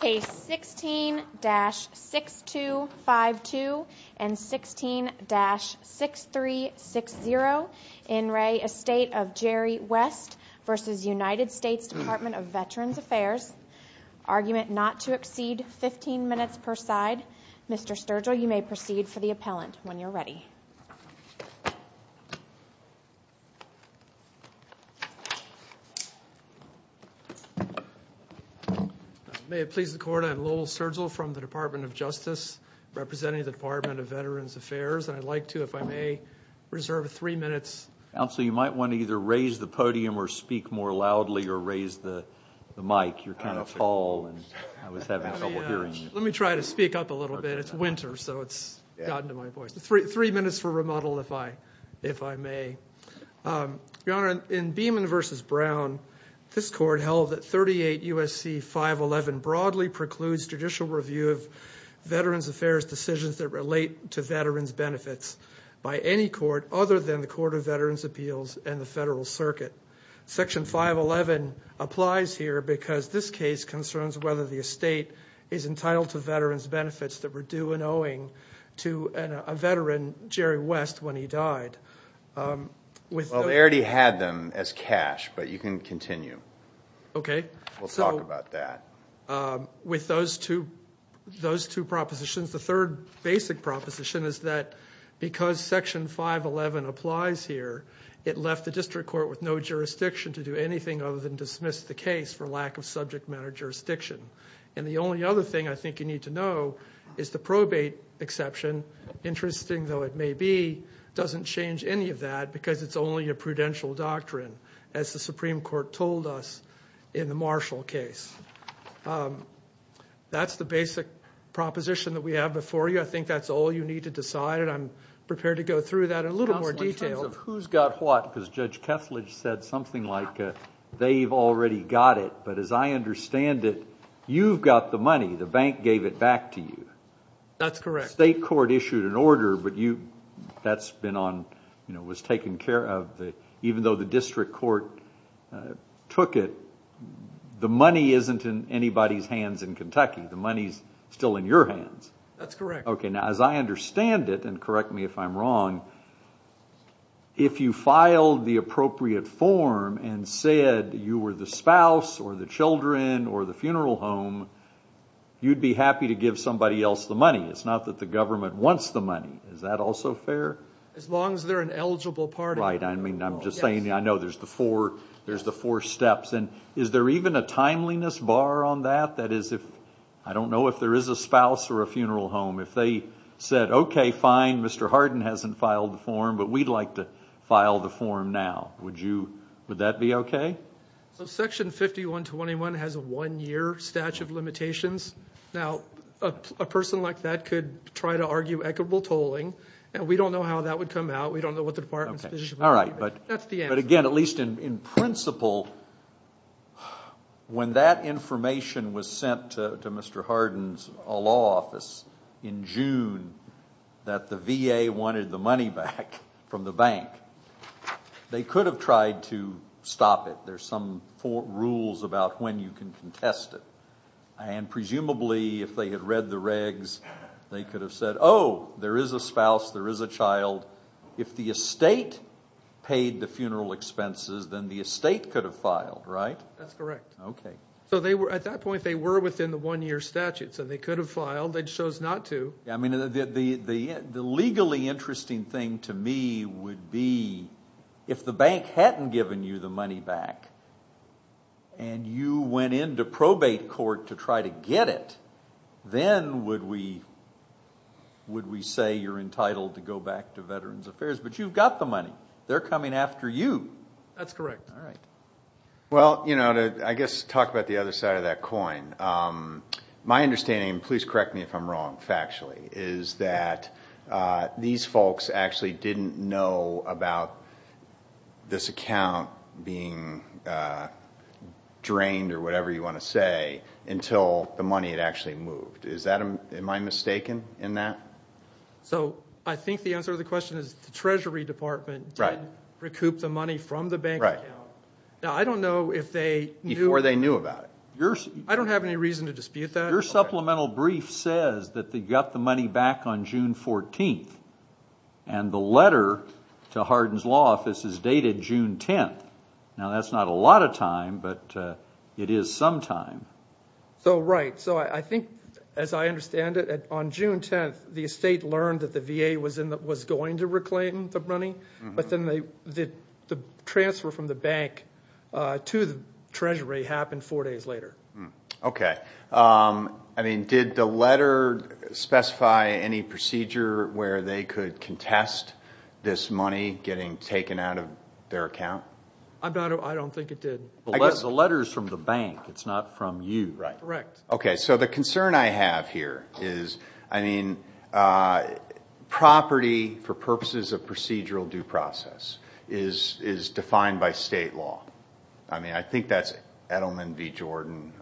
Case 16-6252 and 16-6360. In Re Estate of Jerry West v. United States Department of Veterans Affairs. Argument not to exceed 15 minutes per side. Mr. Sturgill, you may proceed for the appellant when you're ready. May it please the Court, I'm Lowell Sturgill from the Department of Justice, representing the Department of Veterans Affairs. I'd like to, if I may, reserve three minutes. Counsel, you might want to either raise the podium or speak more loudly or raise the mic. You're kind of tall and I was having trouble hearing you. Let me try to speak up a little bit. It's winter, so it's gotten to my voice. Three minutes for remodel, if I may. Your Honor, in Beeman v. Brown, this Court held that 38 U.S.C. 511 broadly precludes judicial review of Veterans Affairs decisions that relate to veterans' benefits by any court other than the Court of Veterans' Appeals and the Federal Circuit. Section 511 applies here because this case concerns whether the estate is entitled to veterans' benefits that were due in owing to a veteran, Jerry West, when he died. Well, they already had them as cash, but you can continue. Okay. We'll talk about that. With those two propositions, the third basic proposition is that because Section 511 applies here, it left the district court with no jurisdiction to do anything other than dismiss the case for lack of subject matter jurisdiction. And the only other thing I think you need to know is the probate exception, interesting though it may be, doesn't change any of that because it's only a prudential doctrine, as the Supreme Court told us in the Marshall case. That's the basic proposition that we have before you. I think that's all you need to decide, and I'm prepared to go through that in a little more detail. In terms of who's got what, because Judge Kethledge said something like they've already got it, but as I understand it, you've got the money. The bank gave it back to you. That's correct. The state court issued an order, but that's been on, was taken care of. Even though the district court took it, the money isn't in anybody's hands in Kentucky. The money's still in your hands. That's correct. Okay. Now, as I understand it, and correct me if I'm wrong, if you filed the appropriate form and said you were the spouse or the children or the funeral home, you'd be happy to give somebody else the money. It's not that the government wants the money. Is that also fair? As long as they're an eligible party. Right. I mean, I'm just saying I know there's the four steps. And is there even a timeliness bar on that? That is, I don't know if there is a spouse or a funeral home. If they said, okay, fine, Mr. Hardin hasn't filed the form, but we'd like to file the form now, would that be okay? Section 5121 has a one-year statute of limitations. Now, a person like that could try to argue equitable tolling, and we don't know how that would come out. We don't know what the department's position would be. That's the answer. But, again, at least in principle, when that information was sent to Mr. Hardin's law office in June, that the VA wanted the money back from the bank, they could have tried to stop it. There's some rules about when you can contest it. And presumably, if they had read the regs, they could have said, oh, there is a spouse, there is a child. If the estate paid the funeral expenses, then the estate could have filed, right? That's correct. Okay. So at that point, they were within the one-year statute, so they could have filed. They chose not to. I mean, the legally interesting thing to me would be if the bank hadn't given you the money back and you went into probate court to try to get it, then would we say you're entitled to go back to Veterans Affairs? But you've got the money. They're coming after you. That's correct. All right. Well, you know, I guess to talk about the other side of that coin, my understanding, and please correct me if I'm wrong factually, is that these folks actually didn't know about this account being drained or whatever you want to say until the money had actually moved. Am I mistaken in that? So I think the answer to the question is the Treasury Department did recoup the money from the bank account. Now, I don't know if they knew. Before they knew about it. I don't have any reason to dispute that. Your supplemental brief says that they got the money back on June 14th, and the letter to Hardin's law office is dated June 10th. Now, that's not a lot of time, but it is some time. So, right. So I think, as I understand it, on June 10th, the estate learned that the VA was going to reclaim the money, but then the transfer from the bank to the Treasury happened four days later. Okay. I mean, did the letter specify any procedure where they could contest this money getting taken out of their account? I don't think it did. The letter is from the bank. It's not from you. Right. Correct. Okay. So the concern I have here is, I mean, property for purposes of procedural due process is defined by state law. I mean, I think that's Edelman v. Jordan.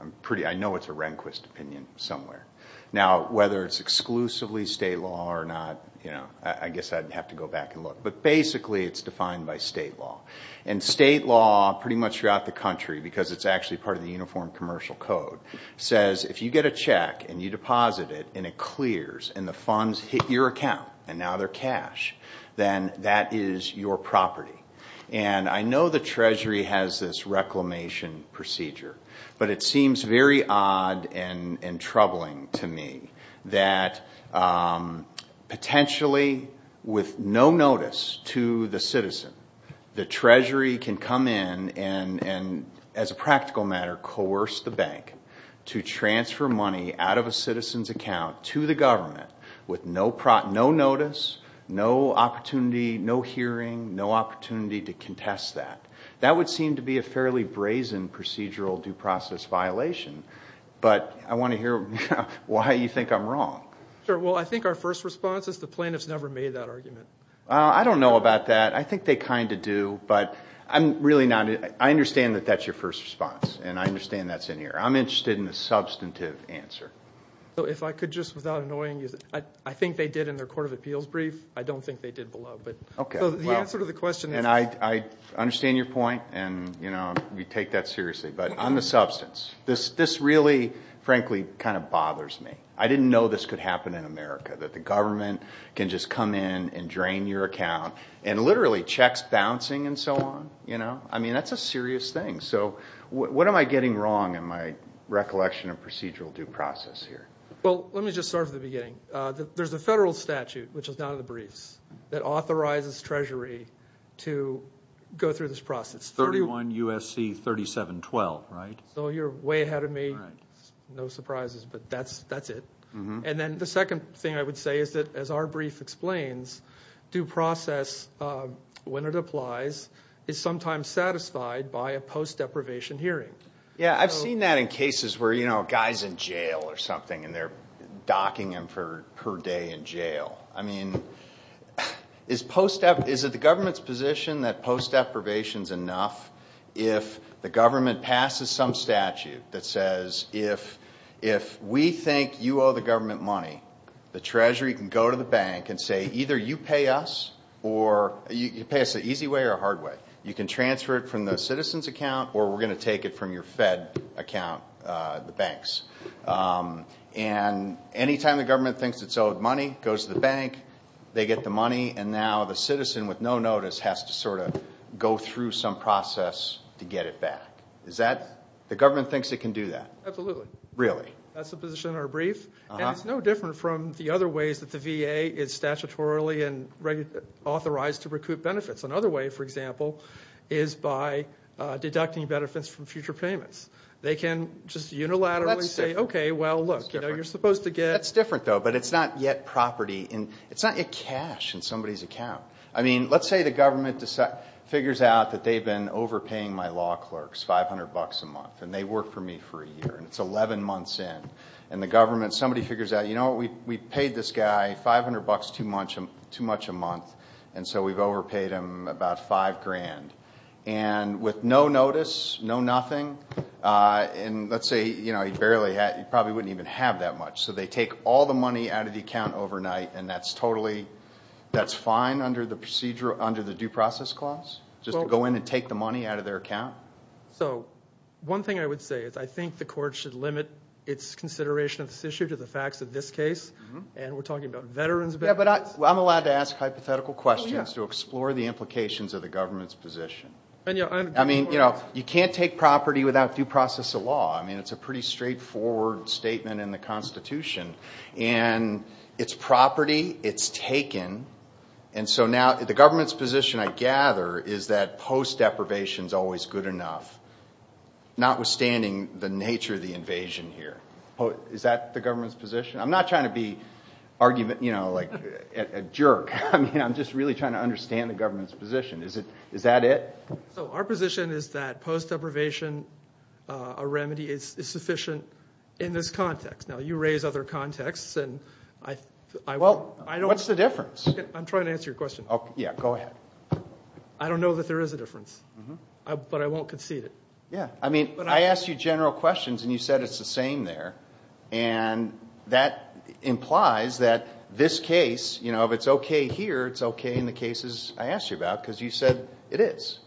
I know it's a Rehnquist opinion somewhere. Now, whether it's exclusively state law or not, I guess I'd have to go back and look. But basically, it's defined by state law. And state law, pretty much throughout the country, because it's actually part of the Uniform Commercial Code, says if you get a check and you deposit it and it clears and the funds hit your account and now they're cash, then that is your property. And I know the Treasury has this reclamation procedure, but it seems very odd and troubling to me that potentially, with no notice to the citizen, the Treasury can come in and, as a practical matter, coerce the bank to transfer money out of a citizen's account to the government with no notice, no opportunity, no hearing, no opportunity to contest that. That would seem to be a fairly brazen procedural due process violation. But I want to hear why you think I'm wrong. Sure. Well, I think our first response is the plaintiff's never made that argument. I don't know about that. I think they kind of do, but I'm really not. I understand that that's your first response, and I understand that's in here. I'm interested in the substantive answer. So if I could, just without annoying you, I think they did in their Court of Appeals brief. I don't think they did below. So the answer to the question is. And I understand your point, and we take that seriously. But on the substance, this really, frankly, kind of bothers me. I didn't know this could happen in America, that the government can just come in and drain your account, and literally checks bouncing and so on. I mean, that's a serious thing. So what am I getting wrong in my recollection of procedural due process here? Well, let me just start at the beginning. There's a federal statute, which is down in the briefs, that authorizes Treasury to go through this process. 31 U.S.C. 3712, right? So you're way ahead of me. No surprises, but that's it. And then the second thing I would say is that, as our brief explains, due process, when it applies, is sometimes satisfied by a post-deprivation hearing. Yeah, I've seen that in cases where, you know, a guy's in jail or something, and they're docking him for a day in jail. I mean, is it the government's position that post-deprivation is enough if the government passes some statute that says, if we think you owe the government money, the Treasury can go to the bank and say, either you pay us, or you pay us the easy way or the hard way. You can transfer it from the citizen's account, or we're going to take it from your Fed account, the bank's. And any time the government thinks it's owed money, it goes to the bank, they get the money, and now the citizen with no notice has to sort of go through some process to get it back. Is that the government thinks it can do that? Absolutely. Really? That's the position in our brief. And it's no different from the other ways that the VA is statutorily and authorized to recoup benefits. Another way, for example, is by deducting benefits from future payments. They can just unilaterally say, okay, well, look, you're supposed to get. That's different, though, but it's not yet property. It's not yet cash in somebody's account. I mean, let's say the government figures out that they've been overpaying my law clerks 500 bucks a month, and they work for me for a year, and it's 11 months in. And the government, somebody figures out, you know what, we paid this guy 500 bucks too much a month, and so we've overpaid him about five grand. And with no notice, no nothing, and let's say, you know, you probably wouldn't even have that much. So they take all the money out of the account overnight, and that's totally fine under the due process clause, just to go in and take the money out of their account? So one thing I would say is I think the court should limit its consideration of this issue to the facts of this case, and we're talking about veterans benefits. Yeah, but I'm allowed to ask hypothetical questions to explore the implications of the government's position. I mean, you know, you can't take property without due process of law. I mean, it's a pretty straightforward statement in the Constitution. And it's property. It's taken. And so now the government's position, I gather, is that post deprivation is always good enough, notwithstanding the nature of the invasion here. Is that the government's position? I'm not trying to be, you know, like a jerk. I mean, I'm just really trying to understand the government's position. Is that it? So our position is that post deprivation, a remedy, is sufficient in this context. Now, you raise other contexts, and I don't know. Well, what's the difference? I'm trying to answer your question. Yeah, go ahead. I don't know that there is a difference, but I won't concede it. Yeah, I mean, I asked you general questions, and you said it's the same there. And that implies that this case, you know, if it's okay here, it's okay in the cases I asked you about because you said it is.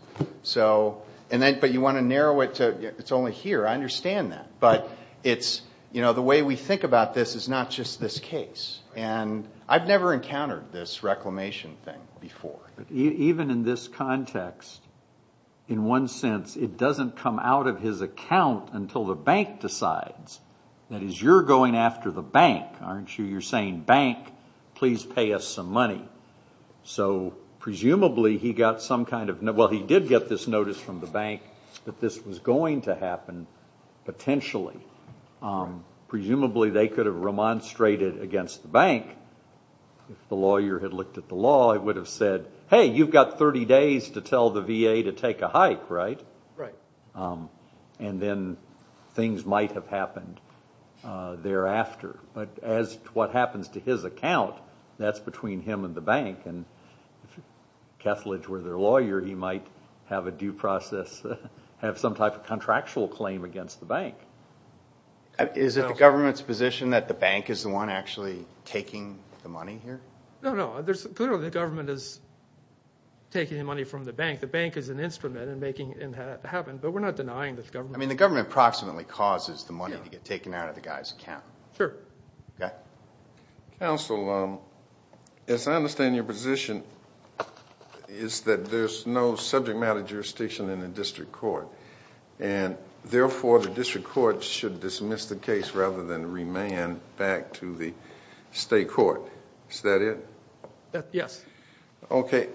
But you want to narrow it to it's only here. I understand that. But it's, you know, the way we think about this is not just this case. And I've never encountered this reclamation thing before. Even in this context, in one sense, it doesn't come out of his account until the bank decides. That is, you're going after the bank, aren't you? You're saying, bank, please pay us some money. So presumably he got some kind of, well, he did get this notice from the bank that this was going to happen potentially. Presumably they could have remonstrated against the bank. If the lawyer had looked at the law, it would have said, hey, you've got 30 days to tell the VA to take a hike, right? Right. And then things might have happened thereafter. But as to what happens to his account, that's between him and the bank. And if Kethledge were their lawyer, he might have a due process, have some type of contractual claim against the bank. Is it the government's position that the bank is the one actually taking the money here? No, no. Clearly the government is taking the money from the bank. The bank is an instrument in making it happen. But we're not denying that the government is. I mean, the government approximately causes the money to get taken out of the guy's account. Sure. Okay. Counsel, as I understand your position, it's that there's no subject matter jurisdiction in the district court. And, therefore, the district court should dismiss the case rather than remain back to the state court. Is that it? Yes. Okay.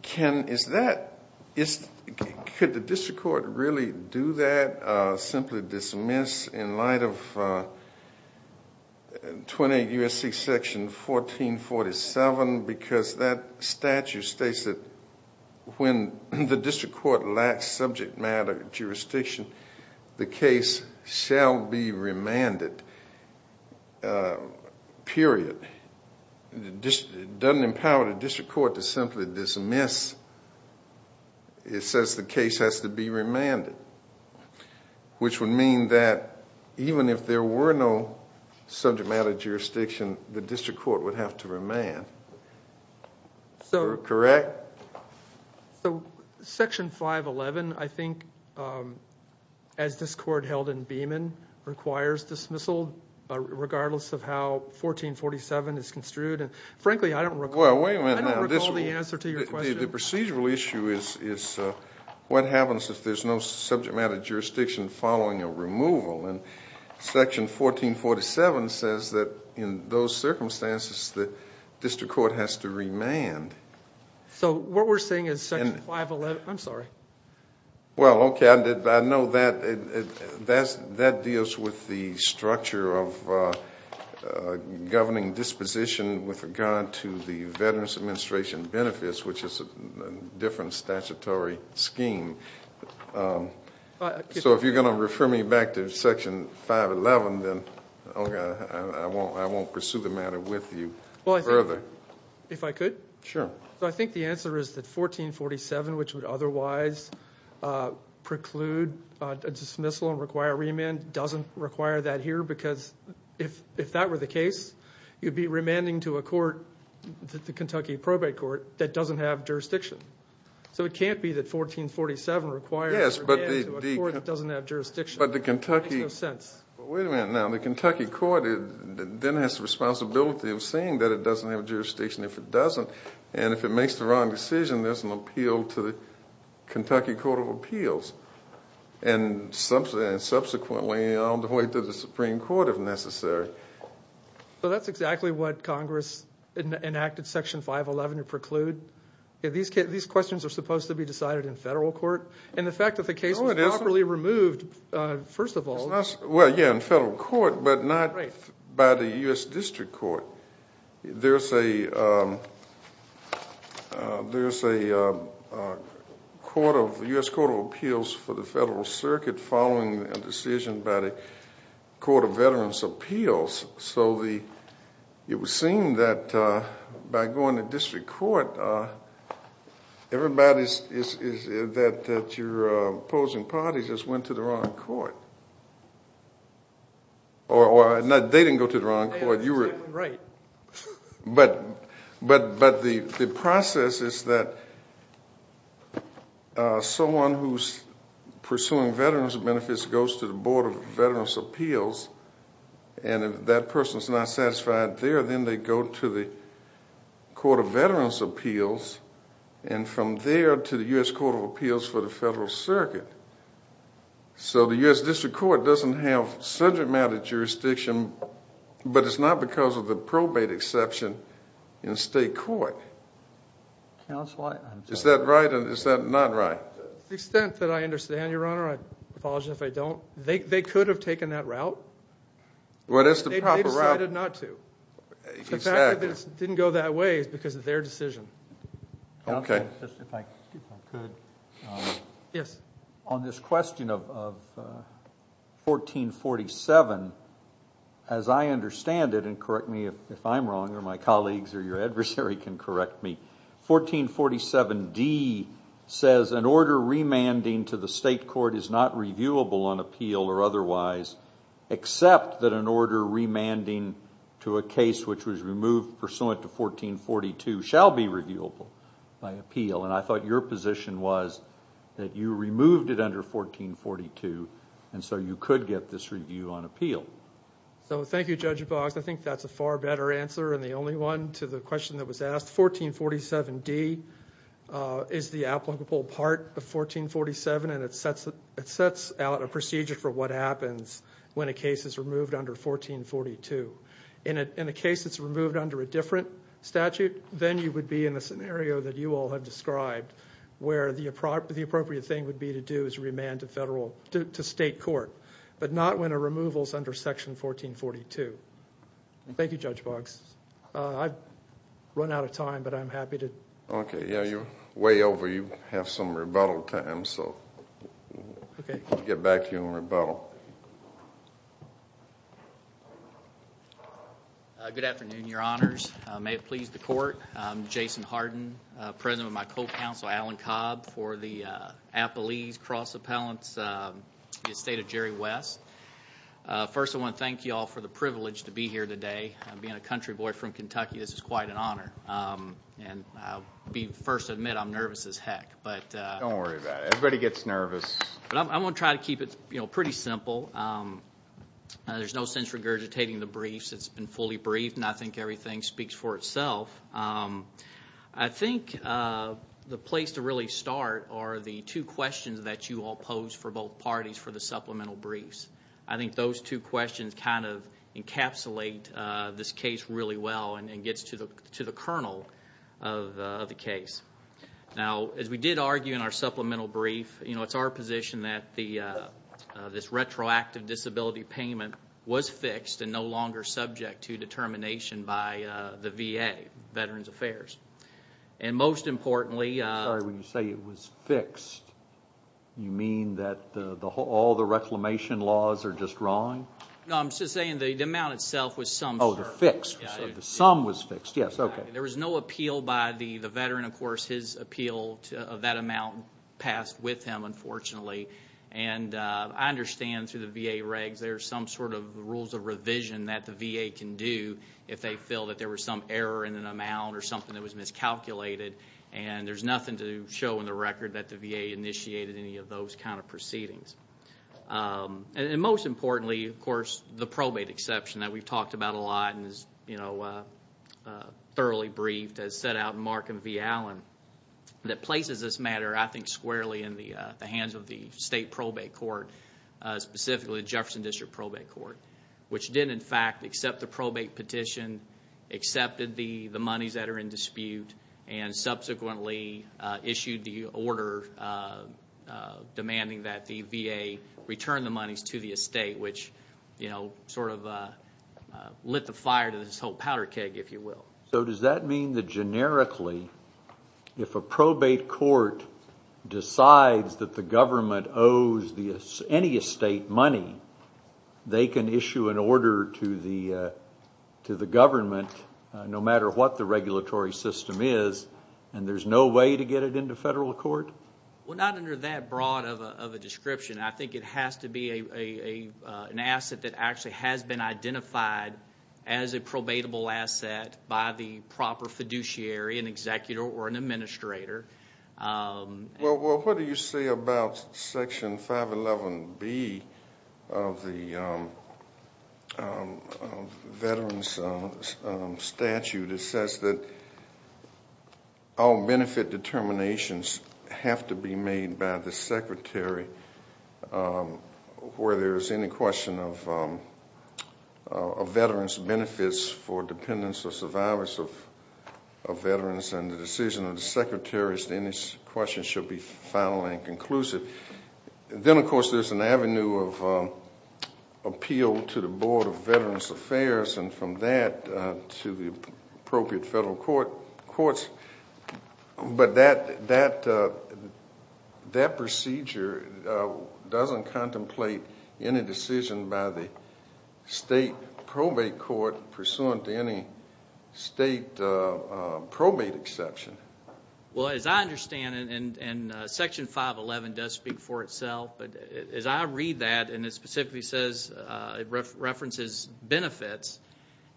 Can is that, could the district court really do that, simply dismiss in light of 28 U.S.C. section 1447? Well, that's important because that statute states that when the district court lacks subject matter jurisdiction, the case shall be remanded, period. It doesn't empower the district court to simply dismiss. It says the case has to be remanded, which would mean that even if there were no subject matter jurisdiction, the district court would have to remand. Correct? Section 511, I think, as this court held in Beeman, requires dismissal, regardless of how 1447 is construed. Frankly, I don't recall the answer to your question. The procedural issue is what happens if there's no subject matter jurisdiction following a removal. And section 1447 says that in those circumstances, the district court has to remand. So what we're saying is section 511, I'm sorry. Well, okay, I know that deals with the structure of governing disposition with regard to the Veterans Administration benefits, which is a different statutory scheme. So if you're going to refer me back to section 511, then I won't pursue the matter with you further. If I could? Sure. I think the answer is that 1447, which would otherwise preclude a dismissal and require remand, doesn't require that here because if that were the case, you'd be remanding to a court, the Kentucky probate court, that doesn't have jurisdiction. So it can't be that 1447 requires a remand to a court that doesn't have jurisdiction. But the Kentucky court then has the responsibility of saying that it doesn't have jurisdiction if it doesn't. And if it makes the wrong decision, there's an appeal to the Kentucky Court of Appeals. And subsequently on the way to the Supreme Court if necessary. So that's exactly what Congress enacted section 511 to preclude. These questions are supposed to be decided in federal court. And the fact that the case was properly removed, first of all. Well, yeah, in federal court, but not by the U.S. District Court. There's a U.S. Court of Appeals for the Federal Circuit following a decision by the Court of Veterans' Appeals. So it would seem that by going to district court, everybody that you're opposing parties just went to the wrong court. Or they didn't go to the wrong court. But the process is that someone who's pursuing veterans' benefits goes to the Board of Veterans' Appeals. And if that person's not satisfied there, then they go to the Court of Veterans' Appeals. And from there to the U.S. Court of Appeals for the Federal Circuit. So the U.S. District Court doesn't have subject matter jurisdiction, but it's not because of the probate exception in state court. Is that right or is that not right? To the extent that I understand, Your Honor, I apologize if I don't. They could have taken that route. They decided not to. The fact that it didn't go that way is because of their decision. Okay. If I could. Yes. On this question of 1447, as I understand it, and correct me if I'm wrong or my colleagues or your adversary can correct me, 1447D says an order remanding to the state court is not reviewable on appeal or otherwise, except that an order remanding to a case which was removed pursuant to 1442 shall be reviewable by appeal. And I thought your position was that you removed it under 1442, and so you could get this review on appeal. So thank you, Judge Boggs. I think that's a far better answer and the only one to the question that was asked. 1447D is the applicable part of 1447 and it sets out a procedure for what happens when a case is removed under 1442. In a case that's removed under a different statute, then you would be in a scenario that you all have described where the appropriate thing would be to do is remand to state court, but not when a removal is under Section 1442. Thank you, Judge Boggs. I've run out of time, but I'm happy to. Okay. Yeah, you're way over. You have some rebuttal time, so we'll get back to you on rebuttal. Good afternoon, Your Honors. May it please the Court. I'm Jason Harden, president of my co-counsel, Alan Cobb, for the Appalese Cross Appellants, the estate of Jerry West. First, I want to thank you all for the privilege to be here today. Being a country boy from Kentucky, this is quite an honor, and I'll first admit I'm nervous as heck. Don't worry about it. Everybody gets nervous. I'm going to try to keep it pretty simple. There's no sense regurgitating the briefs. It's been fully briefed, and I think everything speaks for itself. I think the place to really start are the two questions that you all posed for both parties for the supplemental briefs. I think those two questions kind of encapsulate this case really well and gets to the kernel of the case. Now, as we did argue in our supplemental brief, it's our position that this retroactive disability payment was fixed and no longer subject to determination by the VA, Veterans Affairs. And most importantly- I'm sorry, when you say it was fixed, you mean that all the reclamation laws are just wrong? No, I'm just saying the amount itself was summed- Oh, the fixed. The sum was fixed. Yes, okay. There was no appeal by the veteran. Of course, his appeal of that amount passed with him, unfortunately. And I understand through the VA regs there are some sort of rules of revision that the VA can do if they feel that there was some error in an amount or something that was miscalculated, and there's nothing to show in the record that the VA initiated any of those kind of proceedings. And most importantly, of course, the probate exception that we've talked about a lot and is thoroughly briefed as set out in Mark and V. Allen, that places this matter, I think, squarely in the hands of the state probate court, specifically the Jefferson District Probate Court, which did, in fact, accept the probate petition, accepted the monies that are in dispute, and subsequently issued the order demanding that the VA return the monies to the estate, which sort of lit the fire to this whole powder keg, if you will. So does that mean that, generically, if a probate court decides that the government owes any estate money, they can issue an order to the government, no matter what the regulatory system is, and there's no way to get it into federal court? Well, not under that broad of a description. I think it has to be an asset that actually has been identified as a probatable asset by the proper fiduciary, an executor, or an administrator. Well, what do you say about Section 511B of the Veterans Statute? It says that all benefit determinations have to be made by the secretary where there is any question of veterans' benefits for dependents or survivors of veterans, and the decision of the secretary as to any question should be final and conclusive. Then, of course, there's an avenue of appeal to the Board of Veterans Affairs, and from that to the appropriate federal courts. But that procedure doesn't contemplate any decision by the state probate court pursuant to any state probate exception. Well, as I understand it, and Section 511 does speak for itself, but as I read that, and it specifically says it references benefits,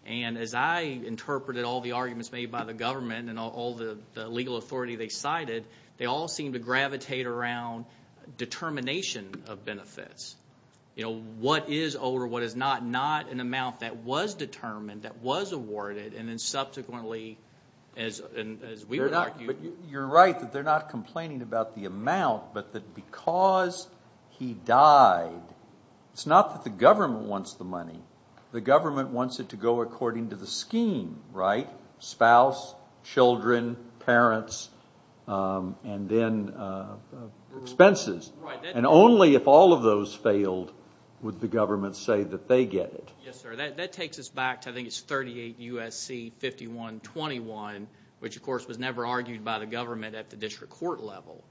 and as I interpreted all the arguments made by the government and all the legal authority they cited, they all seem to gravitate around determination of benefits. What is owed or what is not, not an amount that was determined, that was awarded, and then subsequently, as we would argue... You're right that they're not complaining about the amount, but that because he died, it's not that the government wants the money. The government wants it to go according to the scheme, right? Spouse, children, parents, and then expenses. Right. And only if all of those failed would the government say that they get it. Yes, sir. That takes us back to, I think it's 38 U.S.C. 5121, which, of course, was never argued by the government at the district court level.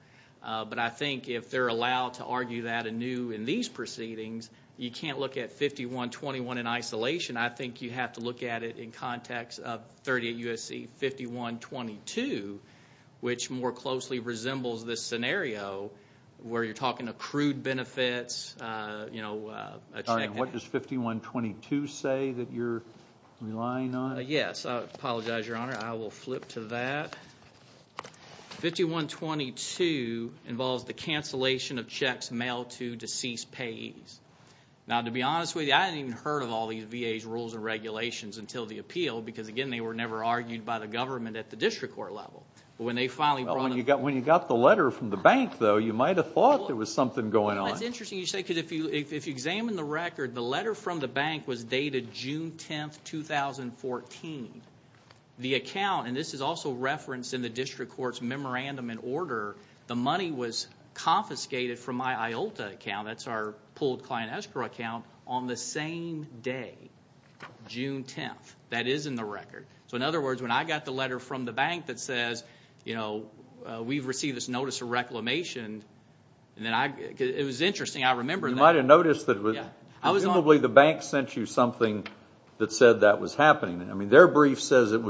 But I think if they're allowed to argue that anew in these proceedings, you can't look at 5121 in isolation. I think you have to look at it in context of 38 U.S.C. 5122, which more closely resembles this scenario where you're talking accrued benefits. What does 5122 say that you're relying on? I apologize, Your Honor. I will flip to that. 5122 involves the cancellation of checks mailed to deceased payees. Now, to be honest with you, I hadn't even heard of all these VA's rules and regulations until the appeal, because, again, they were never argued by the government at the district court level. But when they finally brought them to the court. Well, when you got the letter from the bank, though, you might have thought there was something going on. That's interesting you say, because if you examine the record, the letter from the bank was dated June 10, 2014. The account, and this is also referenced in the district court's memorandum and order, the money was confiscated from my IOLTA account, that's our pooled client escrow account, on the same day, June 10. That is in the record. So, in other words, when I got the letter from the bank that says, you know, we've received this notice of reclamation, it was interesting, I remember that. You might have noticed that presumably the bank sent you something that said that was happening. I mean, their brief says that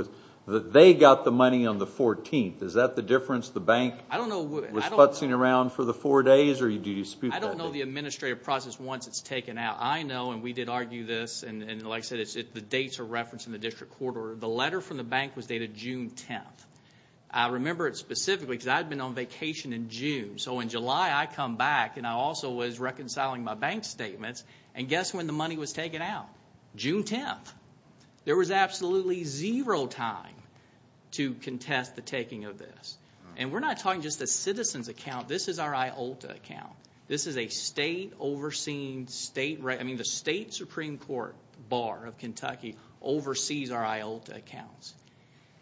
they got the money on the 14th. Is that the difference? The bank was futzing around for the four days, or do you dispute that? I don't know the administrative process once it's taken out. I know, and we did argue this, and like I said, the dates are referenced in the district court order. The letter from the bank was dated June 10. I remember it specifically because I had been on vacation in June. So, in July, I come back, and I also was reconciling my bank statements, and guess when the money was taken out? June 10. There was absolutely zero time to contest the taking of this. And we're not talking just a citizen's account. This is our IOLTA account. This is a state-overseen state. I mean, the state Supreme Court Bar of Kentucky oversees our IOLTA accounts.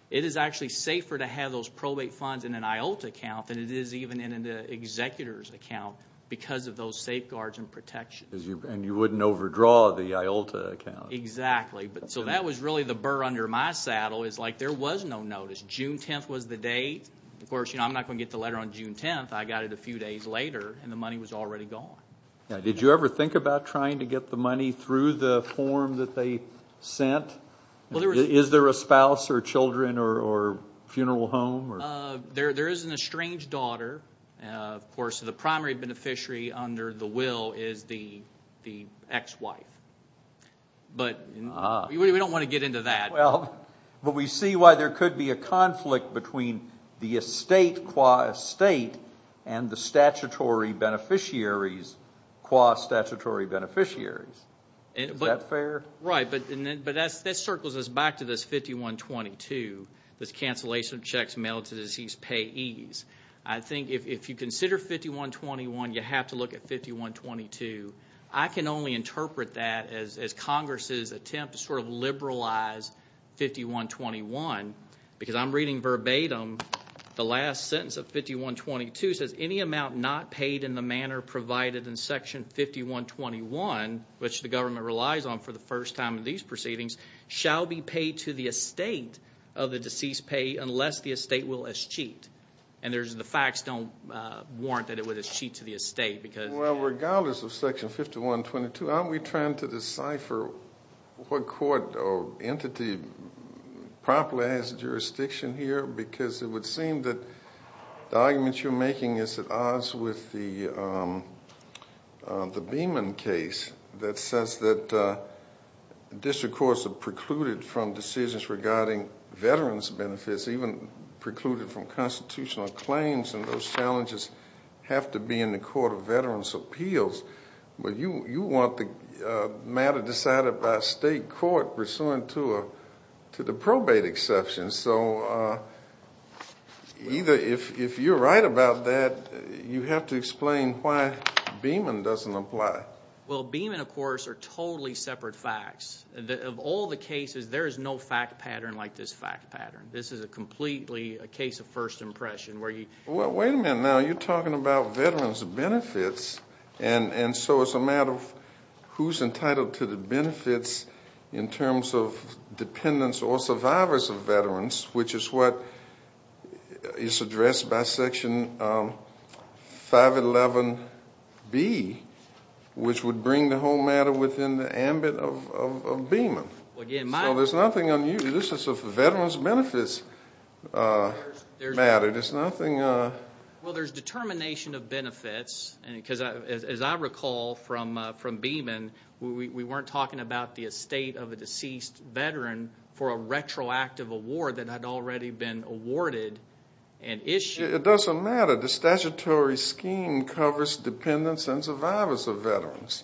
It is actually safer to have those probate funds in an IOLTA account than it is even in an executor's account because of those safeguards and protections. And you wouldn't overdraw the IOLTA account. Exactly. So that was really the burr under my saddle, is like there was no notice. June 10 was the date. Of course, I'm not going to get the letter on June 10. I got it a few days later, and the money was already gone. Now, did you ever think about trying to get the money through the form that they sent? Is there a spouse or children or funeral home? There isn't a strange daughter. Of course, the primary beneficiary under the will is the ex-wife. But we don't want to get into that. Well, but we see why there could be a conflict between the estate qua estate and the statutory beneficiaries qua statutory beneficiaries. Is that fair? Right. But that circles us back to this 5122, this cancellation of checks mailed to deceased payees. I think if you consider 5121, you have to look at 5122. I can only interpret that as Congress's attempt to sort of liberalize 5121 because I'm reading verbatim the last sentence of 5122 says, any amount not paid in the manner provided in Section 5121, which the government relies on for the first time in these proceedings, shall be paid to the estate of the deceased payee unless the estate will escheat. And the facts don't warrant that it would escheat to the estate because Well, regardless of Section 5122, aren't we trying to decipher what court or entity properly has jurisdiction here? Because it would seem that the argument you're making is at odds with the Beeman case that says that district courts are precluded from decisions regarding veterans' benefits, even precluded from constitutional claims, and those challenges have to be in the court of veterans' appeals. But you want the matter decided by a state court pursuant to the probate exception. So if you're right about that, you have to explain why Beeman doesn't apply. Well, Beeman, of course, are totally separate facts. Of all the cases, there is no fact pattern like this fact pattern. This is completely a case of first impression where you Well, wait a minute now. You're talking about veterans' benefits, and so it's a matter of who's entitled to the benefits in terms of dependents or survivors of veterans, which is what is addressed by Section 511B, which would bring the whole matter within the ambit of Beeman. So there's nothing unusual. This is a veterans' benefits matter. There's nothing Well, there's determination of benefits, because as I recall from Beeman, we weren't talking about the estate of a deceased veteran for a retroactive award that had already been awarded and issued. It doesn't matter. The statutory scheme covers dependents and survivors of veterans.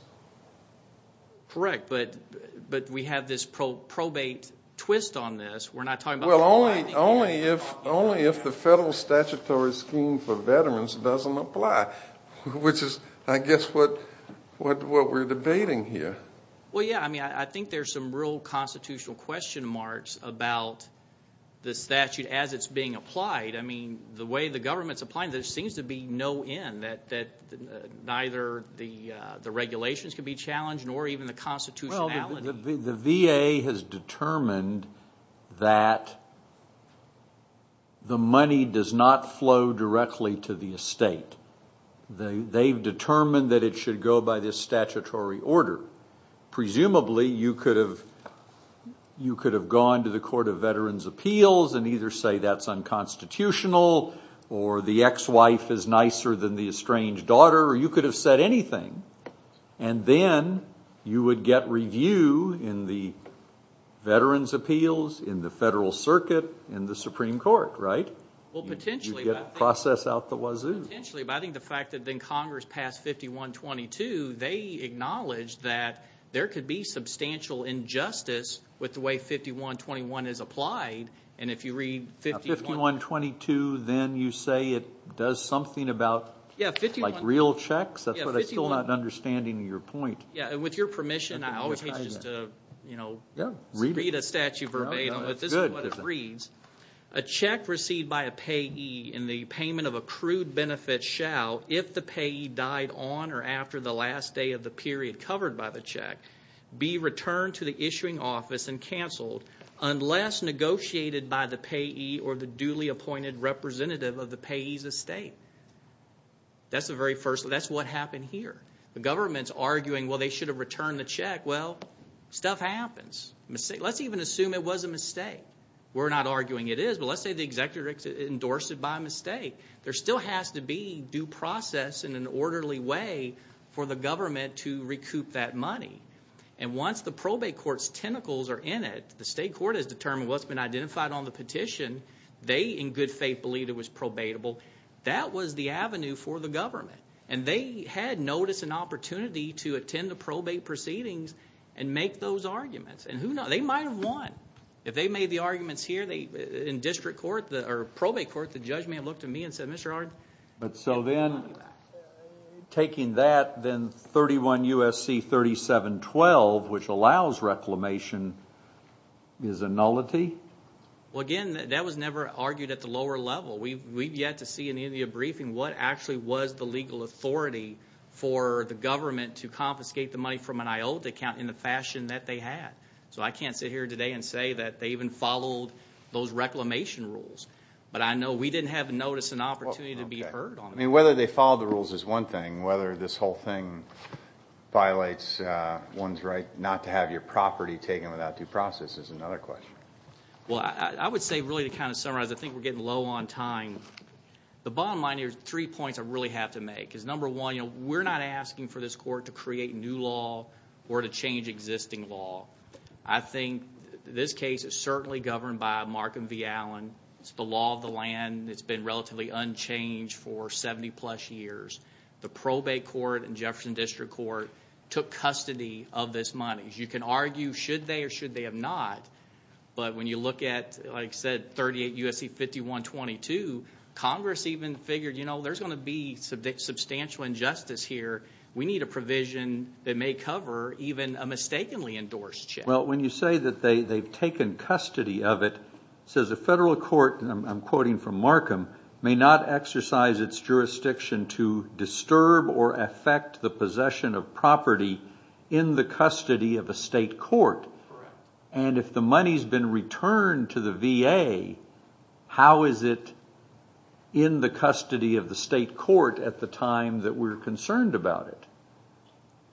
Correct, but we have this probate twist on this. We're not talking about providing Well, only if the federal statutory scheme for veterans doesn't apply, which is, I guess, what we're debating here. Well, yeah, I mean, I think there's some real constitutional question marks about the statute as it's being applied. I mean, the way the government's applying it, there seems to be no end, and that neither the regulations can be challenged nor even the constitutionality. Well, the VA has determined that the money does not flow directly to the estate. They've determined that it should go by this statutory order. Presumably, you could have gone to the Court of Veterans' Appeals and either say that's unconstitutional or the ex-wife is nicer than the estranged daughter, or you could have said anything, and then you would get review in the Veterans' Appeals, in the Federal Circuit, in the Supreme Court, right? You'd get to process out the wazoo. Potentially, but I think the fact that then Congress passed 5122, they acknowledged that there could be substantial injustice with the way 5121 is applied, and if you read 5122, then you say it does something about real checks? That's what I'm still not understanding your point. Yeah, and with your permission, I always hate to just read a statute verbatim, but this is what it reads. A check received by a payee in the payment of accrued benefits shall, if the payee died on or after the last day of the period covered by the check, be returned to the issuing office and canceled unless negotiated by the payee or the duly appointed representative of the payee's estate. That's what happened here. The government's arguing, well, they should have returned the check. Well, stuff happens. Let's even assume it was a mistake. We're not arguing it is, but let's say the executive endorsed it by mistake. There still has to be due process in an orderly way for the government to recoup that money, and once the probate court's tentacles are in it, the state court has determined what's been identified on the petition, they in good faith believe it was probatable. That was the avenue for the government, and they had notice and opportunity to attend the probate proceedings and make those arguments. They might have won. If they made the arguments here in district court or probate court, the judge may have looked at me and said, But so then taking that, then 31 U.S.C. 3712, which allows reclamation, is a nullity? Well, again, that was never argued at the lower level. We've yet to see in any of your briefing what actually was the legal authority for the government to confiscate the money from an IOTA account in the fashion that they had. So I can't sit here today and say that they even followed those reclamation rules. But I know we didn't have notice and opportunity to be heard on that. Whether they followed the rules is one thing. Whether this whole thing violates one's right not to have your property taken without due process is another question. Well, I would say really to kind of summarize, I think we're getting low on time. The bottom line here is three points I really have to make. Number one, we're not asking for this court to create new law or to change existing law. I think this case is certainly governed by Markham v. Allen. It's the law of the land. It's been relatively unchanged for 70-plus years. The probate court and Jefferson District Court took custody of this money. You can argue should they or should they have not, but when you look at, like I said, 38 U.S.C. 5122, Congress even figured, you know, there's going to be substantial injustice here. We need a provision that may cover even a mistakenly endorsed check. Well, when you say that they've taken custody of it, it says a federal court, and I'm quoting from Markham, may not exercise its jurisdiction to disturb or affect the possession of property in the custody of a state court. And if the money's been returned to the VA, how is it in the custody of the state court at the time that we're concerned about it?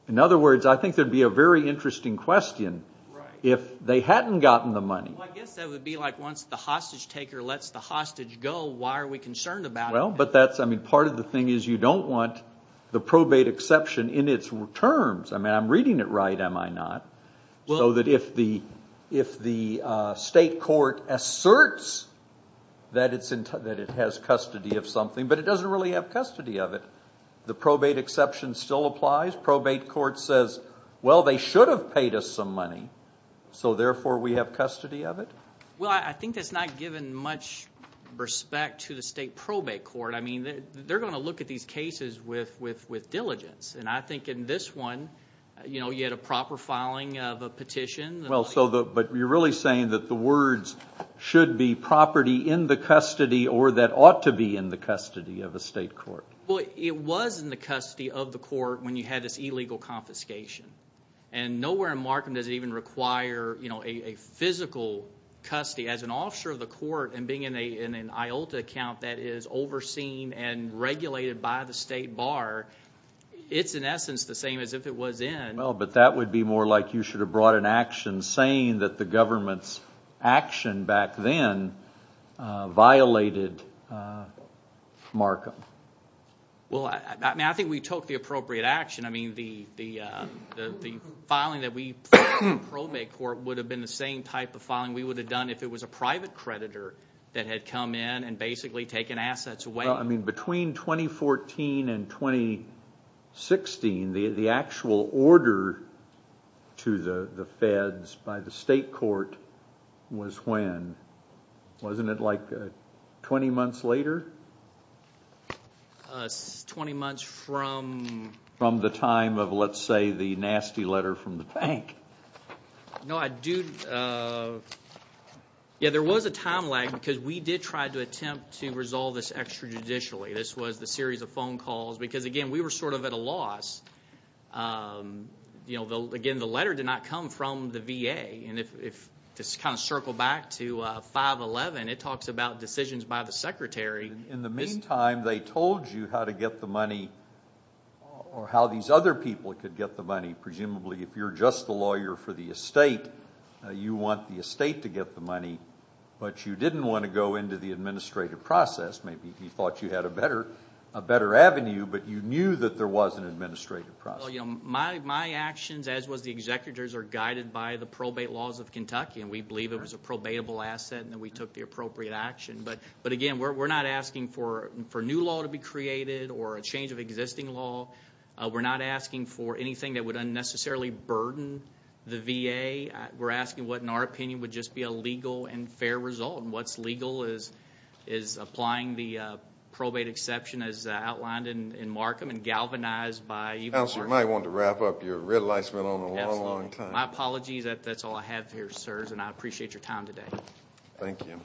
In other words, I think there would be a very interesting question if they hadn't gotten the money. Well, I guess that would be like once the hostage taker lets the hostage go, why are we concerned about it? Well, but that's, I mean, part of the thing is you don't want the probate exception in its terms. I mean, I'm reading it right, am I not? So that if the state court asserts that it has custody of something, but it doesn't really have custody of it, the probate exception still applies? Probate court says, well, they should have paid us some money, so therefore we have custody of it? Well, I think that's not giving much respect to the state probate court. I mean, they're going to look at these cases with diligence, and I think in this one, you know, you had a proper filing of a petition. Well, but you're really saying that the words should be property in the custody or that ought to be in the custody of a state court. Well, it was in the custody of the court when you had this illegal confiscation, and nowhere in Markham does it even require, you know, a physical custody. As an officer of the court and being in an IOLTA account that is overseen and regulated by the state bar, it's in essence the same as if it was in. Well, but that would be more like you should have brought an action saying that the government's action back then violated Markham. Well, I think we took the appropriate action. I mean, the filing that we filed in the probate court would have been the same type of filing we would have done if it was a private creditor that had come in and basically taken assets away. Well, I mean, between 2014 and 2016, the actual order to the feds by the state court was when? Wasn't it like 20 months later? 20 months from? From the time of, let's say, the nasty letter from the bank. No, I do. Yeah, there was a time lag because we did try to attempt to resolve this extrajudicially. This was the series of phone calls because, again, we were sort of at a loss. You know, again, the letter did not come from the VA, and to kind of circle back to 511, it talks about decisions by the secretary. In the meantime, they told you how to get the money or how these other people could get the money, presumably, if you're just the lawyer for the estate, you want the estate to get the money, but you didn't want to go into the administrative process. Maybe he thought you had a better avenue, but you knew that there was an administrative process. Well, you know, my actions, as was the executor's, are guided by the probate laws of Kentucky, and we believe it was a probatable asset and that we took the appropriate action. But, again, we're not asking for a new law to be created or a change of existing law. We're not asking for anything that would unnecessarily burden the VA. We're asking what, in our opinion, would just be a legal and fair result, and what's legal is applying the probate exception, as outlined in Markham, and galvanized by even more. Counselor, you might want to wrap up. You're a real lifesaver on the long, long time. My apologies. That's all I have here, sirs, and I appreciate your time today. Thank you.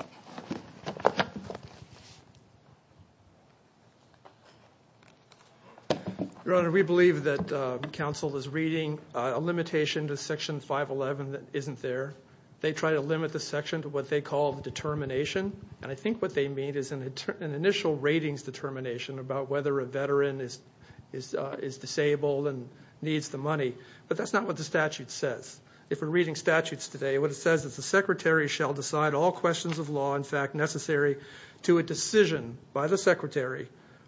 Your Honor, we believe that counsel is reading a limitation to Section 511 that isn't there. They try to limit the section to what they call the determination, and I think what they mean is an initial ratings determination about whether a veteran is disabled and needs the money. But that's not what the statute says. If we're reading statutes today, what it says is the secretary shall decide all questions of law, in fact, necessary to a decision by the secretary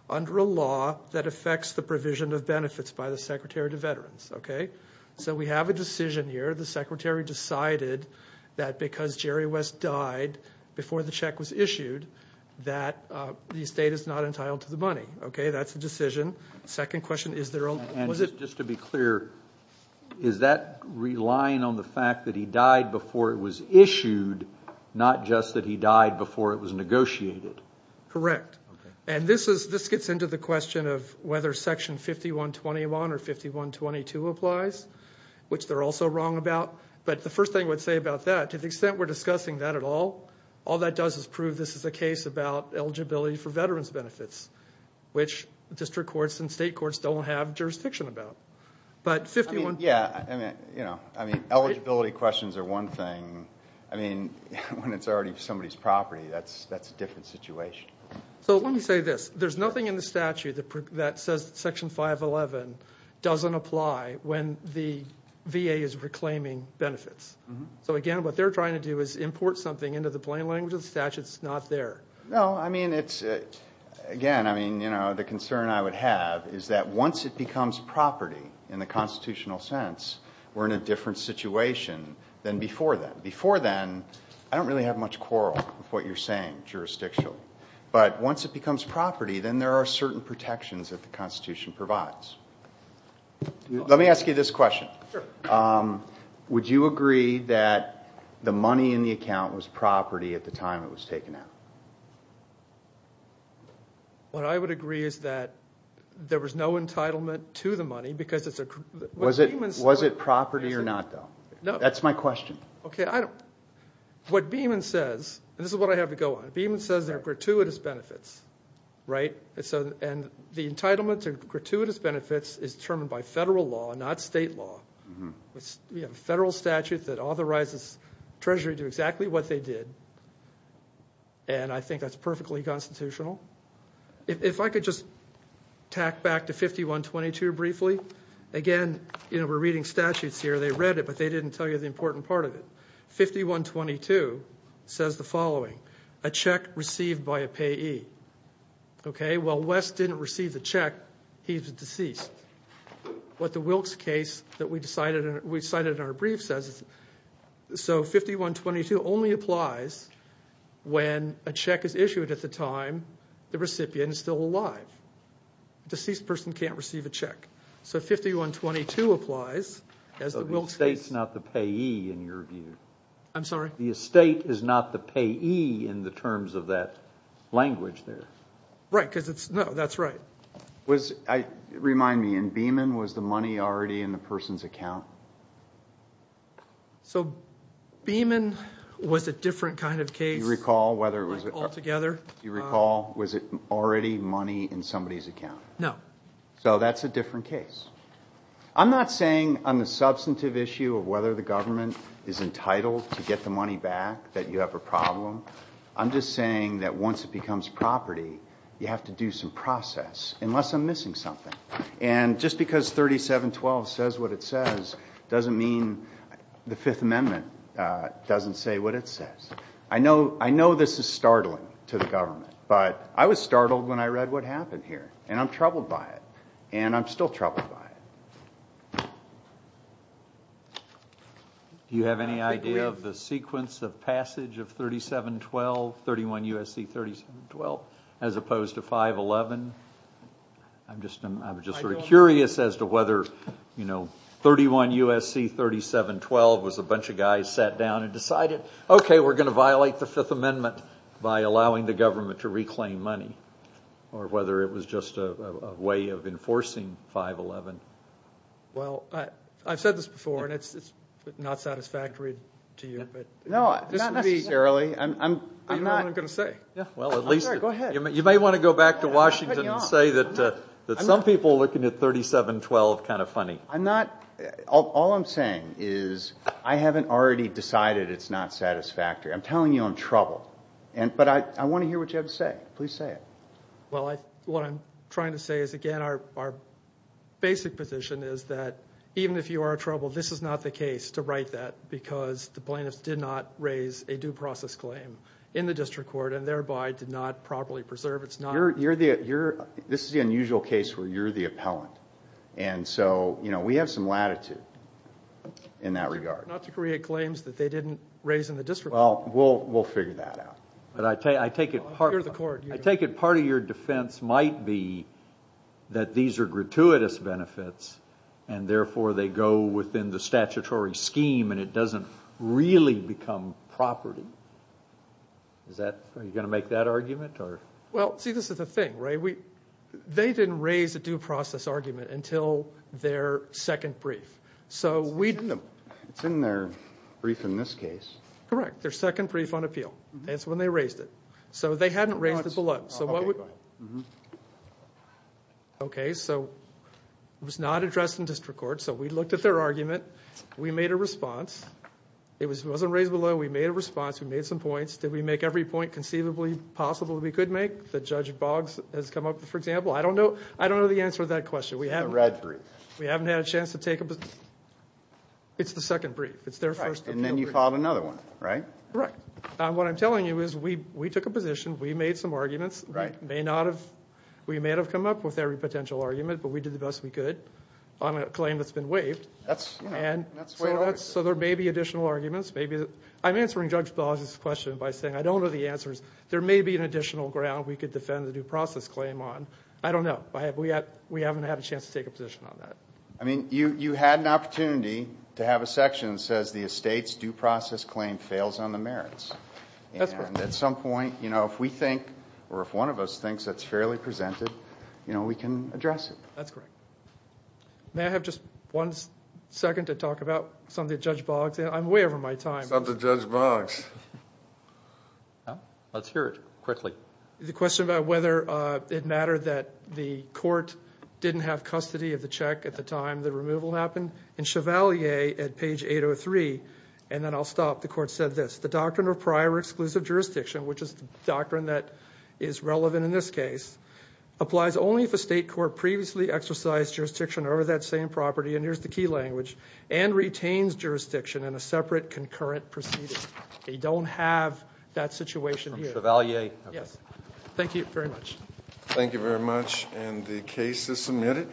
under a law that affects the provision of benefits by the secretary to veterans. Okay? So we have a decision here. The secretary decided that because Jerry West died before the check was issued, that the estate is not entitled to the money. Okay? That's the decision. Second question, is there a law? not just that he died before it was negotiated. Correct. And this gets into the question of whether Section 5121 or 5122 applies, which they're also wrong about. But the first thing I would say about that, to the extent we're discussing that at all, all that does is prove this is a case about eligibility for veterans' benefits, which district courts and state courts don't have jurisdiction about. Yeah. I mean, eligibility questions are one thing. I mean, when it's already somebody's property, that's a different situation. So let me say this. There's nothing in the statute that says Section 511 doesn't apply when the VA is reclaiming benefits. So, again, what they're trying to do is import something into the plain language of the statute that's not there. No. I mean, again, the concern I would have is that once it becomes property in the constitutional sense, we're in a different situation than before then. Before then, I don't really have much quarrel with what you're saying jurisdictionally. But once it becomes property, then there are certain protections that the Constitution provides. Let me ask you this question. Sure. Would you agree that the money in the account was property at the time it was taken out? What I would agree is that there was no entitlement to the money. Was it property or not, though? No. That's my question. Okay. What Beeman says, and this is what I have to go on, Beeman says there are gratuitous benefits, right? And the entitlement to gratuitous benefits is determined by federal law, not state law. We have a federal statute that authorizes Treasury to do exactly what they did. And I think that's perfectly constitutional. If I could just tack back to 5122 briefly. Again, we're reading statutes here. They read it, but they didn't tell you the important part of it. 5122 says the following. A check received by a payee. Okay, well, Wes didn't receive the check. He's deceased. What the Wilkes case that we cited in our brief says, so 5122 only applies when a check is issued at the time the recipient is still alive. A deceased person can't receive a check. So 5122 applies as the Wilkes case. The estate's not the payee in your view. I'm sorry? The estate is not the payee in the terms of that language there. Right, because it's, no, that's right. Remind me, in Beeman, was the money already in the person's account? So Beeman was a different kind of case altogether. Do you recall, was it already money in somebody's account? No. So that's a different case. I'm not saying on the substantive issue of whether the government is entitled to get the money back that you have a problem. I'm just saying that once it becomes property, you have to do some process unless I'm missing something. And just because 3712 says what it says doesn't mean the Fifth Amendment doesn't say what it says. I know this is startling to the government, but I was startled when I read what happened here, and I'm troubled by it. And I'm still troubled by it. Do you have any idea of the sequence of passage of 3712, 31 U.S.C. 3712, as opposed to 511? I'm just sort of curious as to whether, you know, 31 U.S.C. 3712 was a bunch of guys sat down and decided, okay, we're going to violate the Fifth Amendment by allowing the government to reclaim money, or whether it was just a way of enforcing 511. Well, I've said this before, and it's not satisfactory to you. No, not necessarily. You know what I'm going to say. Go ahead. You may want to go back to Washington and say that some people looking at 3712 are kind of funny. All I'm saying is I haven't already decided it's not satisfactory. I'm telling you I'm troubled. But I want to hear what you have to say. Please say it. Well, what I'm trying to say is, again, our basic position is that even if you are troubled, this is not the case to write that because the plaintiffs did not raise a due process claim in the district court and thereby did not properly preserve it. This is the unusual case where you're the appellant. And so, you know, we have some latitude in that regard. Not to create claims that they didn't raise in the district court. Well, we'll figure that out. But I take it part of your defense might be that these are gratuitous benefits and therefore they go within the statutory scheme and it doesn't really become property. Are you going to make that argument? Well, see, this is the thing, right? They didn't raise a due process argument until their second brief. It's in their brief in this case. Correct, their second brief on appeal. That's when they raised it. So they hadn't raised it below. Okay, go ahead. Okay, so it was not addressed in district court. So we looked at their argument. We made a response. It wasn't raised below. We made a response. We made some points. Did we make every point conceivably possible that we could make? That Judge Boggs has come up with, for example. I don't know the answer to that question. We haven't had a chance to take a position. It's the second brief. It's their first appeal brief. And then you filed another one, right? Correct. What I'm telling you is we took a position. We made some arguments. We may not have come up with every potential argument, but we did the best we could on a claim that's been waived. That's way over. So there may be additional arguments. I'm answering Judge Boggs' question by saying I don't know the answers. There may be an additional ground we could defend the due process claim on. I don't know. We haven't had a chance to take a position on that. I mean, you had an opportunity to have a section that says the estate's due process claim fails on the merits. That's correct. And at some point, you know, if we think, or if one of us thinks that's fairly presented, you know, we can address it. That's correct. May I have just one second to talk about something that Judge Boggs, and I'm way over my time. Something that Judge Boggs. Let's hear it quickly. The question about whether it mattered that the court didn't have custody of the check at the time the removal happened. In Chevalier at page 803, and then I'll stop, the court said this, the doctrine of prior exclusive jurisdiction, which is the doctrine that is relevant in this case, applies only if a state court previously exercised jurisdiction over that same property, and here's the key language, and retains jurisdiction in a separate concurrent proceeding. They don't have that situation here. From Chevalier. Yes. Thank you very much. Thank you very much. And the case is submitted.